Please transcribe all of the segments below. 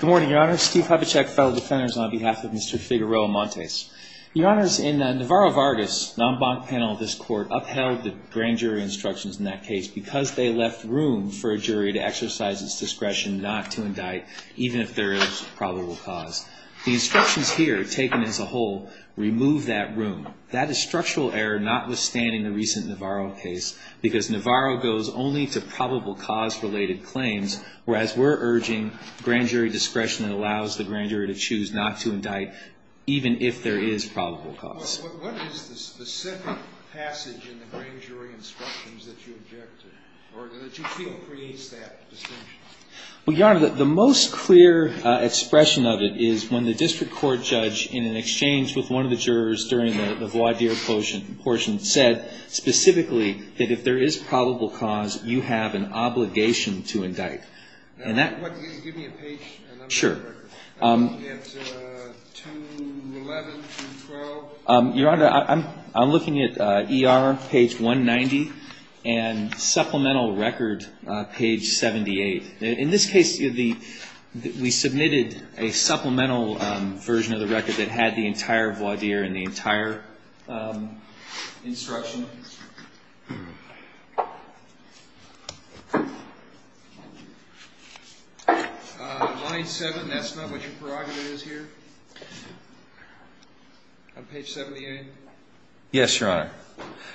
Good morning, your honor. Steve Hubachek, fellow defenders, on behalf of Mr. Figueroa-Montes. Your honors, in Navarro-Vargas non-bank panel, this court upheld the grand jury instructions in that case because they left room for a jury to exercise its discretion not to indict even if there is probable cause. The instructions here taken as a whole remove that room. That is structural error notwithstanding the recent Navarro case because Navarro goes only to discretion that allows the grand jury to choose not to indict even if there is probable cause. What is the specific passage in the grand jury instructions that you object to, or that you feel creates that distinction? Well, your honor, the most clear expression of it is when the district court judge, in an exchange with one of the jurors during the voir dire portion, said specifically that if there is probable cause, you have an obligation to indict. Give me a page. Sure. Your honor, I'm looking at ER, page 190, and supplemental record, page 78. In this case, we submitted a supplemental version of the record that had the entire voir dire and the entire instruction. Line 7, that's not what your prerogative is here. On page 78. Yes, your honor.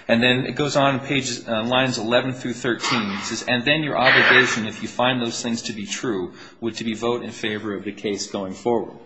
And then it goes on pages, lines 11 through 13. It says, and then your obligation, if you find those things to be true, would to be vote in favor of the case going forward.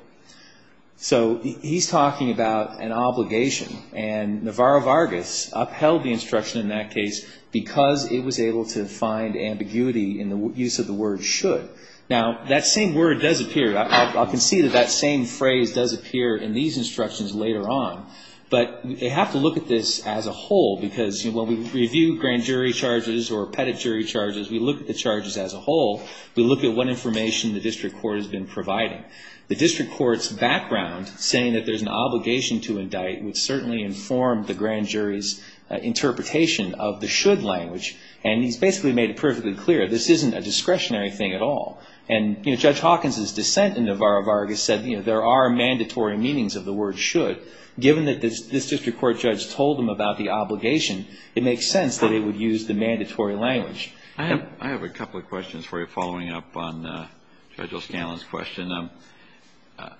So he's talking about an obligation, and Navarro Vargas upheld the instruction in that case because it was able to find ambiguity in the use of the word should. Now, that same word does appear. I can see that that same phrase does appear in these instructions later on, but they have to look at this as a whole, because when we review grand jury charges or pettit jury charges, we look at the charges as a whole. We look at what information the district court has been providing. The district court's background saying that there's an obligation to indict would certainly inform the grand jury's interpretation of the should language, and he's basically made it perfectly clear this isn't a discretionary thing at all. And, you know, Judge Hawkins' dissent in Navarro Vargas said, you know, there are mandatory meanings of the word should. Given that this district court judge told him about the obligation, it makes sense that it would use the mandatory language. I have a couple of questions for you following up on Judge O'Scanlan's question.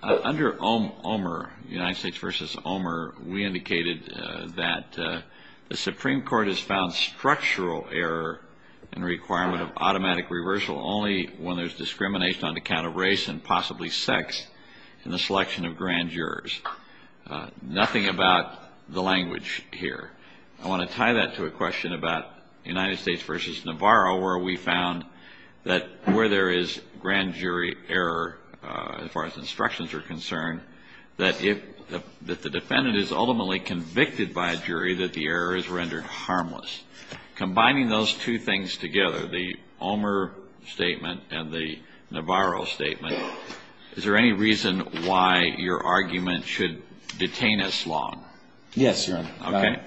Under Omer, United States v. Omer, we indicated that the Supreme Court has found structural error in the requirement of automatic reversal only when there's discrimination on account of race and possibly sex in the selection of grand jurors. Nothing about the language here. I want to tie that to a that where there is grand jury error, as far as instructions are concerned, that if the defendant is ultimately convicted by a jury, that the error is rendered harmless. Combining those two things together, the Omer statement and the Navarro statement, is there any reason why your argument should detain us long? Yes, Your Honor. Okay.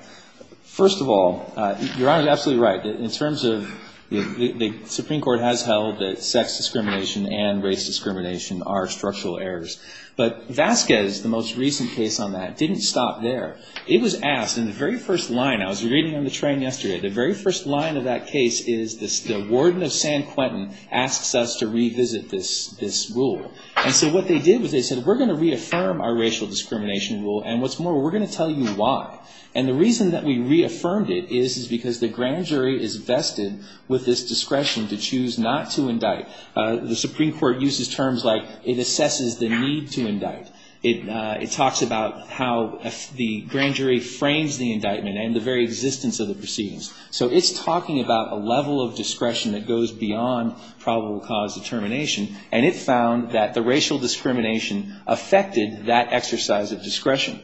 First of all, Your Honor is absolutely right. In terms of the Supreme Court has held that sex discrimination and race discrimination are structural errors. But Vasquez, the most recent case on that, didn't stop there. It was asked in the very first line. I was reading on the train yesterday. The very first line of that case is the warden of San Quentin asks us to revisit this rule. And so what they did was they said, we're going to reaffirm our racial discrimination rule. And what's more, we're going to tell you why. And the reason that we reaffirmed it is because the grand jury is vested with this discretion to choose not to indict. The Supreme Court uses terms like, it assesses the need to indict. It talks about how the grand jury frames the indictment and the very existence of the proceedings. So it's talking about a level of discretion that goes beyond probable cause determination. And it found that the racial discrimination affected that exercise of discretion.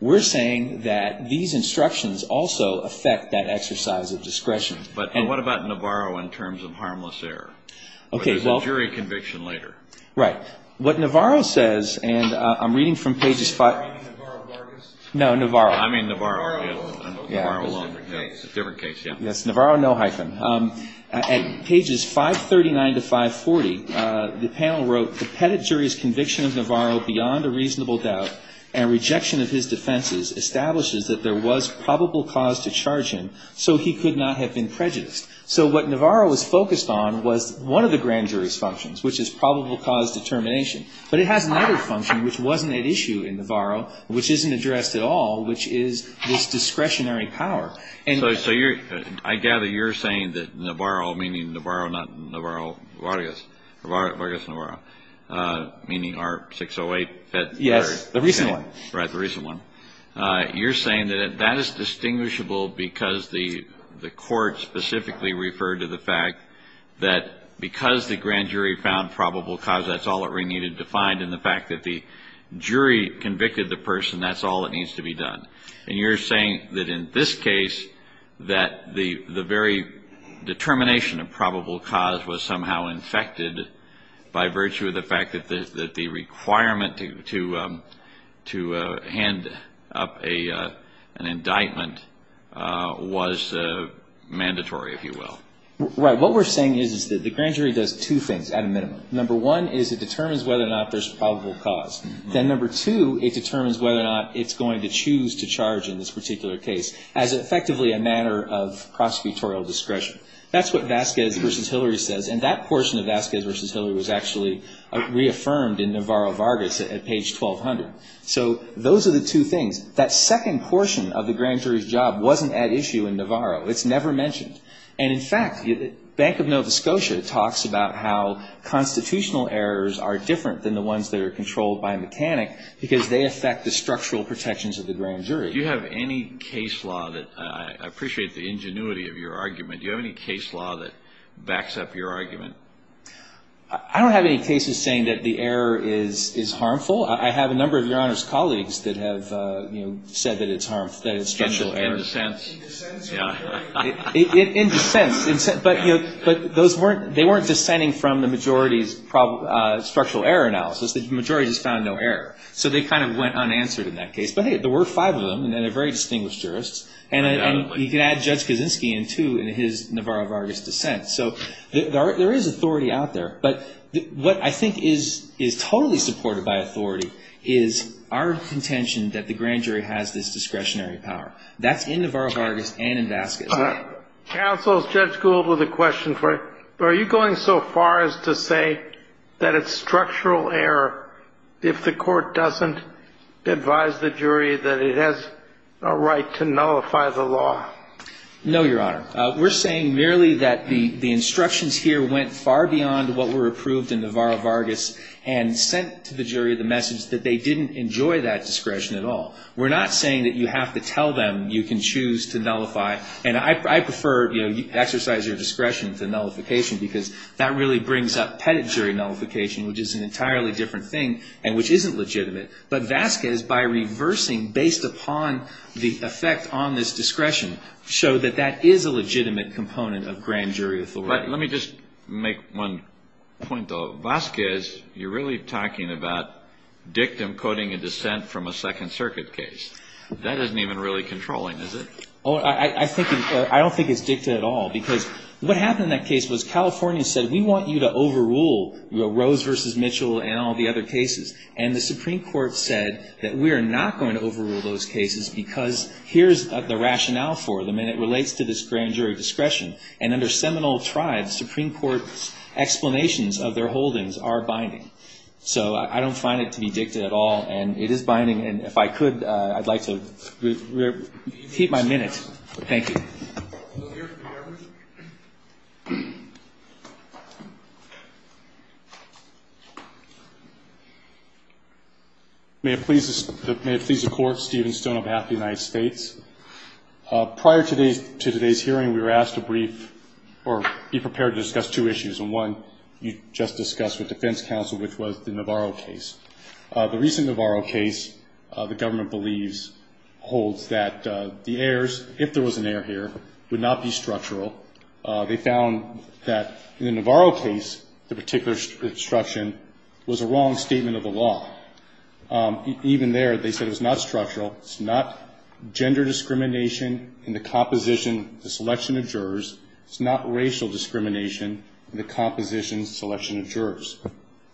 We're saying that these instructions also affect that exercise of discretion. But what about Navarro in terms of harmless error? There's a jury conviction later. Right. What Navarro says, and I'm reading from pages five. Are you reading Navarro of Vargas? No, Navarro. I mean Navarro. Navarro is a different case. Yes, Navarro, no hyphen. At pages 539 to 540, the panel wrote, the Petit jury's conviction of Navarro beyond a reasonable doubt and rejection of his defenses establishes that there was probable cause to charge him, so he could not have been prejudiced. So what Navarro was focused on was one of the grand jury's functions, which is probable cause determination. But it has another function which wasn't at issue in Navarro, which isn't addressed at all, which is this discretionary power. So I gather you're saying that Navarro, meaning Navarro, not Navarro, Vargas, Vargas Navarro, meaning our 608 Petit jury. Yes, the recent one. Right, the recent one. You're saying that that is distinguishable because the court specifically referred to the fact that because the grand jury found probable cause, that's all that we needed to find, and the fact that the jury convicted the person, that's all that needs to be done. And you're saying that in this case, that the very determination of probable cause was somehow infected by virtue of the fact that the requirement to hand up an indictment was mandatory, if you will. Right. What we're saying is that the grand jury does two things at a minimum. Number one is it determines whether or not there's probable cause. Then number two, it determines whether or not it's going to choose to charge in this particular case as effectively a matter of prosecutorial discretion. That's what Vasquez v. Hillary says, and that portion of Vasquez v. Hillary was actually reaffirmed in Navarro-Vargas at page 1200. So those are the two things. That second portion of the grand jury's job wasn't at issue in Navarro. It's never mentioned. And in Navarro, constitutional errors are different than the ones that are controlled by a mechanic, because they affect the structural protections of the grand jury. Do you have any case law that, I appreciate the ingenuity of your argument, do you have any case law that backs up your argument? I don't have any cases saying that the error is harmful. I have a number of Your Honor's colleagues that have said that it's harmful, that it's structural error. In a sense. In a sense. But they weren't dissenting from the majority's structural error analysis. The majority just found no error. So they kind of went unanswered in that case. But hey, there were five of them, and they're very distinguished jurists. And you can add Judge Kaczynski in too in his Navarro-Vargas dissent. So there is authority out there. But what I think is totally supported by authority is our contention that the grand jury has this discretionary power. That's in Navarro-Vargas and in Vasquez. Counsel, Judge Gould with a question for you. Are you going so far as to say that it's structural error if the court doesn't advise the jury that it has a right to nullify the law? No, Your Honor. We're saying merely that the instructions here went far beyond what were approved in Navarro-Vargas and sent to the jury the discretion at all. We're not saying that you have to tell them you can choose to nullify. And I prefer, you know, exercise your discretion to nullification because that really brings up pedigree nullification, which is an entirely different thing and which isn't legitimate. But Vasquez, by reversing based upon the effect on this discretion, showed that that is a legitimate component of grand jury authority. Let me just make one point, though. Vasquez, you're really talking about dictum coding a dissent from a Second Circuit case. That isn't even really controlling, is it? Oh, I don't think it's dicta at all. Because what happened in that case was California said, we want you to overrule Rose v. Mitchell and all the other cases. And the Supreme Court said that we are not going to overrule those cases because here's the rationale for them. And it relates to this grand jury discretion. And under seminal tribes, Supreme Court explanations of their holdings are binding. So I don't find it to be dicta at all. And it is binding. And if I could, I'd like to repeat my minute. Thank you. May it please the Court, Steven Stone on behalf of the United States. Prior to today's hearing, we were asked to brief or be prepared to discuss two issues. And one you just discussed with defense counsel, which was the Navarro case. The recent Navarro case, the government believes, holds that the errors, if there was an error here, would not be structural. They found that in the Navarro case, the particular obstruction was a wrong statement of the law. Even there, they said it was not structural. It's not gender discrimination in the composition, the selection of jurors. It's not racial discrimination in the composition, selection of jurors.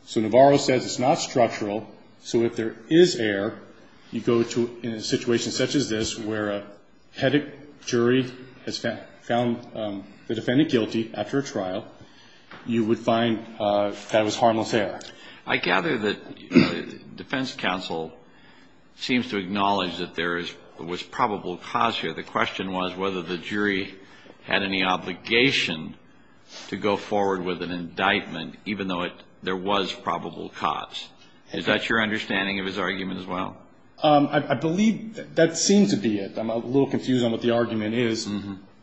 So Navarro says it's not structural. So if there is error, you go to a situation such as this, where a headache jury has found the defendant guilty after a trial, you would find that it was harmless error. I gather that defense counsel seems to acknowledge that there was probable cause here. The question was whether the jury had any obligation to go forward with an indictment, even though there was probable cause. Is that your understanding of his argument as well? I believe that seemed to be it. I'm a little confused on what the argument is.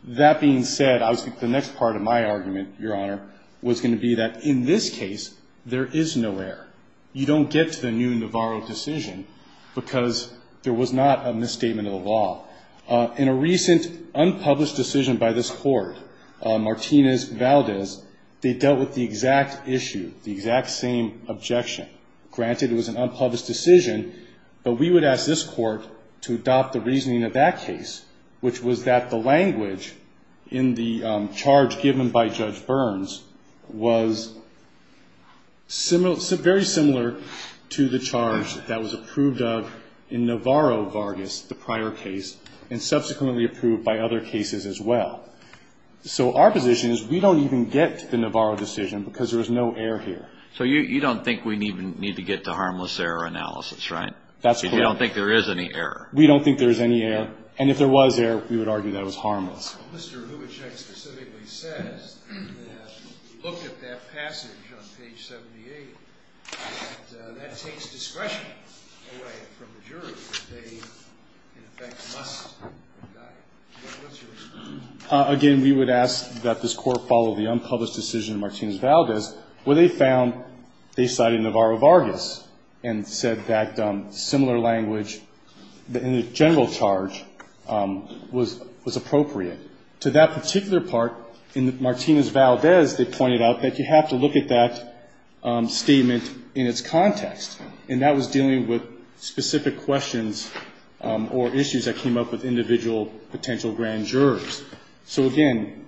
That being said, I was thinking the next part of my argument, Your Honor, was going to be that in this case, there is no error. You don't get to the new Navarro decision because there was not a misstatement of the law. In a recent unpublished decision by this court, Martinez-Valdez, they dealt with the exact issue, the exact same objection. Granted, it was an unpublished decision, but we would ask this court to adopt the reasoning of that case, which was that the language in the charge given by Judge Burns was very similar to the charge that was approved of in Navarro-Vargas, the prior case, and subsequently approved by other cases as well. So our position is we don't even get to the Navarro decision because there was no error here. So you don't think we need to get to harmless error analysis, right? That's correct. So you don't think there is any error? We don't think there is any error. And if there was error, we would argue that it was harmless. Mr. Hubachek specifically says that if you look at that passage on page 78, that that takes discretion away from the jury. They, in effect, must indict. What's your response? They cited Navarro-Vargas and said that similar language in the general charge was appropriate. To that particular part, in Martinez-Valdez, they pointed out that you have to look at that statement in its context, and that was dealing with specific questions or issues that came up with individual potential grand jurors. So again,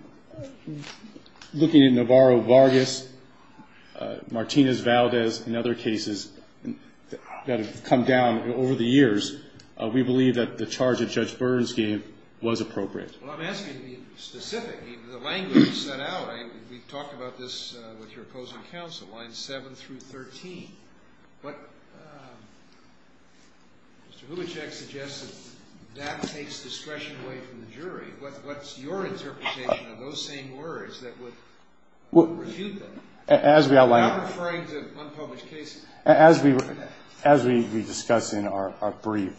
looking at Navarro-Vargas, Martinez-Valdez, and other cases that have come down over the years, we believe that the charge that Judge Burns gave was appropriate. Well, I'm asking to be specific. The language you set out, we talked about this with your opposing counsel, lines 7 through 13. But Mr. Hubachek suggests that that takes discretion away from the jury. What's your interpretation of those same words that would refute them, not referring to unpublished cases? As we discuss in our brief,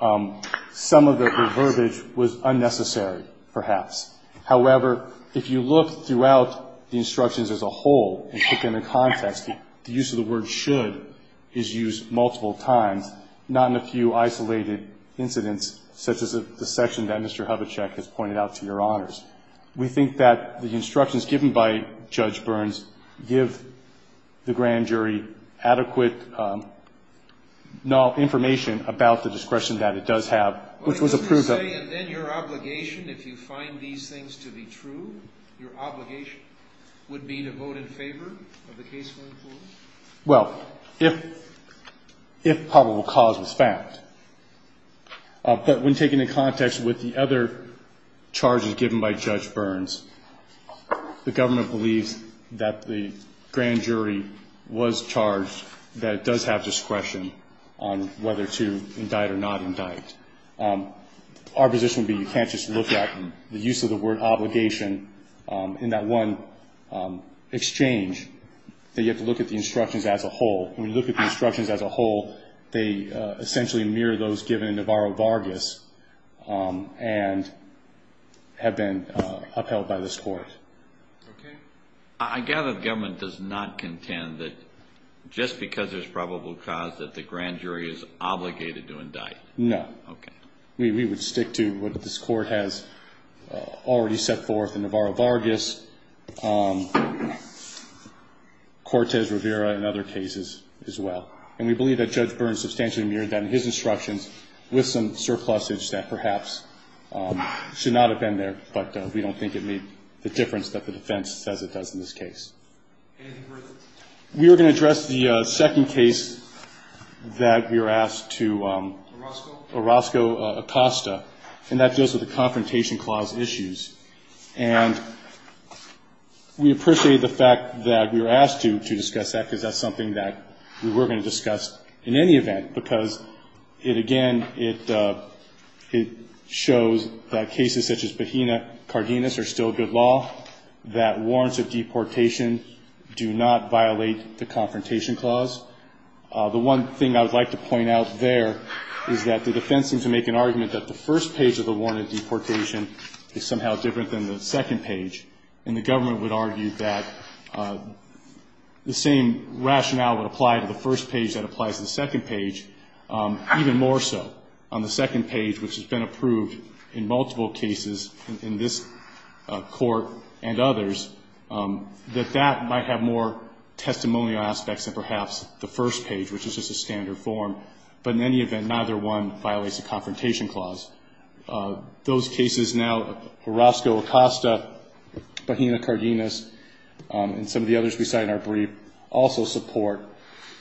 some of the verbiage was unnecessary, perhaps. However, if you look throughout the instructions as a whole and put them in context, the use of the word should is used multiple times, not in a few isolated incidents, such as the section that Mr. Hubachek has pointed out to Your Honor, I don't have adequate information about the discretion that it does have, which was approved of. Then your obligation, if you find these things to be true, your obligation would be to vote in favor of the case we're in forward? Well, if probable cause was found. But when taken in context with the other charges given by Judge Burns, the government believes that the grand jury was charged, that it does have discretion on whether to indict or not indict. Our position would be you can't just look at the use of the word obligation in that one exchange, that you have to look at the instructions as a whole. When you look at the instructions as a whole, they essentially mirror those given in Navarro-Vargas and have been upheld by this court. I gather the government does not contend that just because there's probable cause that the grand jury is obligated to indict? No. We would stick to what this court has already set forth in Navarro-Vargas, Cortez-Rivera, and other cases as well. And we believe that Judge Burns substantially mirrored that in his instructions with some surplusage that perhaps should not have been there, but we don't think it made the difference that the defense says it does in this case. Anything further? We were going to address the second case that we were asked to. Orozco-Acosta, and that deals with the Confrontation Clause issues. And we appreciate the fact that we were asked to discuss that, because that's something that we were going to discuss in any event, because it, again, it shows that cases such as Bajena-Cardenas are still good law, that warrants of deportation do not violate the Confrontation Clause. The one thing I would like to point out there is that the defense seems to make an argument that the first page of the warrant of deportation is somehow different than the second page, and the government would argue that the same rationale would apply to the first page that applies to the second page, even more so on the second page, which has been approved in multiple cases in this court and others, that that might have more testimonial aspects than perhaps the first page, which is just a standard form. But in any event, neither one violates the Confrontation Clause. Those cases now, Orozco-Acosta, Bajena-Cardenas, and some of the others we cite in our brief, also support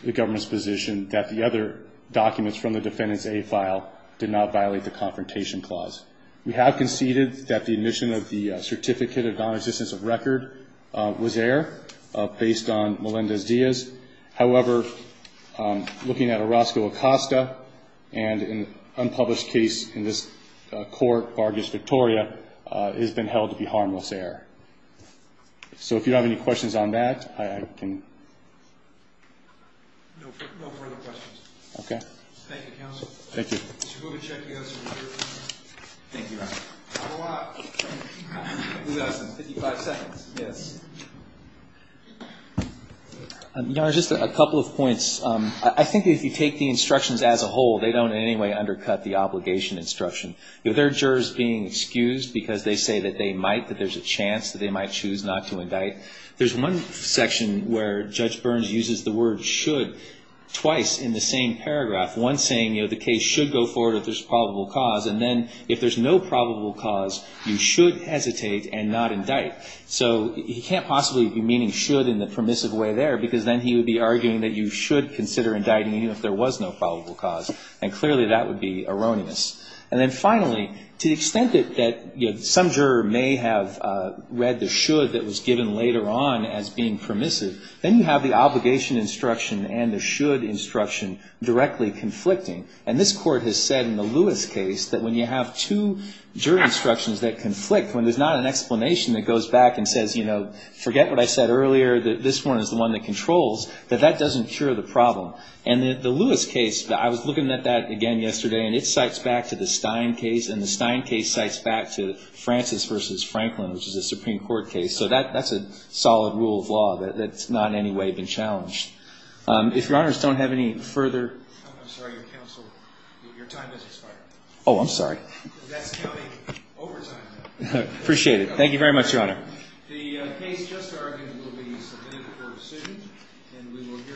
the government's position that the other documents from the Defendant's A file did not violate the Confrontation Clause. We have conceded that the admission of the Certificate of Non-Existence of Record was error, based on Melendez-Diaz. However, looking at Orozco-Acosta and an unpublished case in this court, Vargas-Victoria, it has been held to be harmless error. So if you don't have any questions on that, I can... No further questions. Okay. Thank you, counsel. Thank you. Would you go ahead and check the other certificates? Thank you, Your Honor. How do I... You've got some 55 seconds. Yes. Your Honor, just a couple of points. I think if you take the instructions as a whole, they don't in any way undercut the obligation instruction. If there are jurors being excused because they say that they might, that there's a chance that they might choose not to indict, there's one section where Judge Burns uses the word should twice in the same paragraph, one saying, you know, the case should go forward if there's probable cause, and then if there's no probable cause, you should hesitate and not indict. So he can't possibly be meaning should in the permissive way there, because then he would be arguing that you should consider indicting even if there was no probable cause, and clearly that would be erroneous. And then finally, to the extent that some juror may have read the should that was given later on as being permissive, then you have the obligation instruction and the should instruction directly conflicting. And this Court has said in the Lewis case that when you have two jury instructions that conflict, when there's not an explanation that goes back and says, you know, forget what I said earlier, that this one is the one that controls, that that doesn't cure the problem. And the Lewis case, I was looking at that again yesterday, and it cites back to the Stein case, and the Stein case cites back to Francis v. Franklin, which is a Supreme Court case. So that's a solid rule of law that's not in any way been challenged. If Your Honors don't have any further. I'm sorry, Counsel. Your time has expired. Oh, I'm sorry. That's counting overtime. I appreciate it. Thank you very much, Your Honor. The case just argued will be submitted for decision. And we will hear.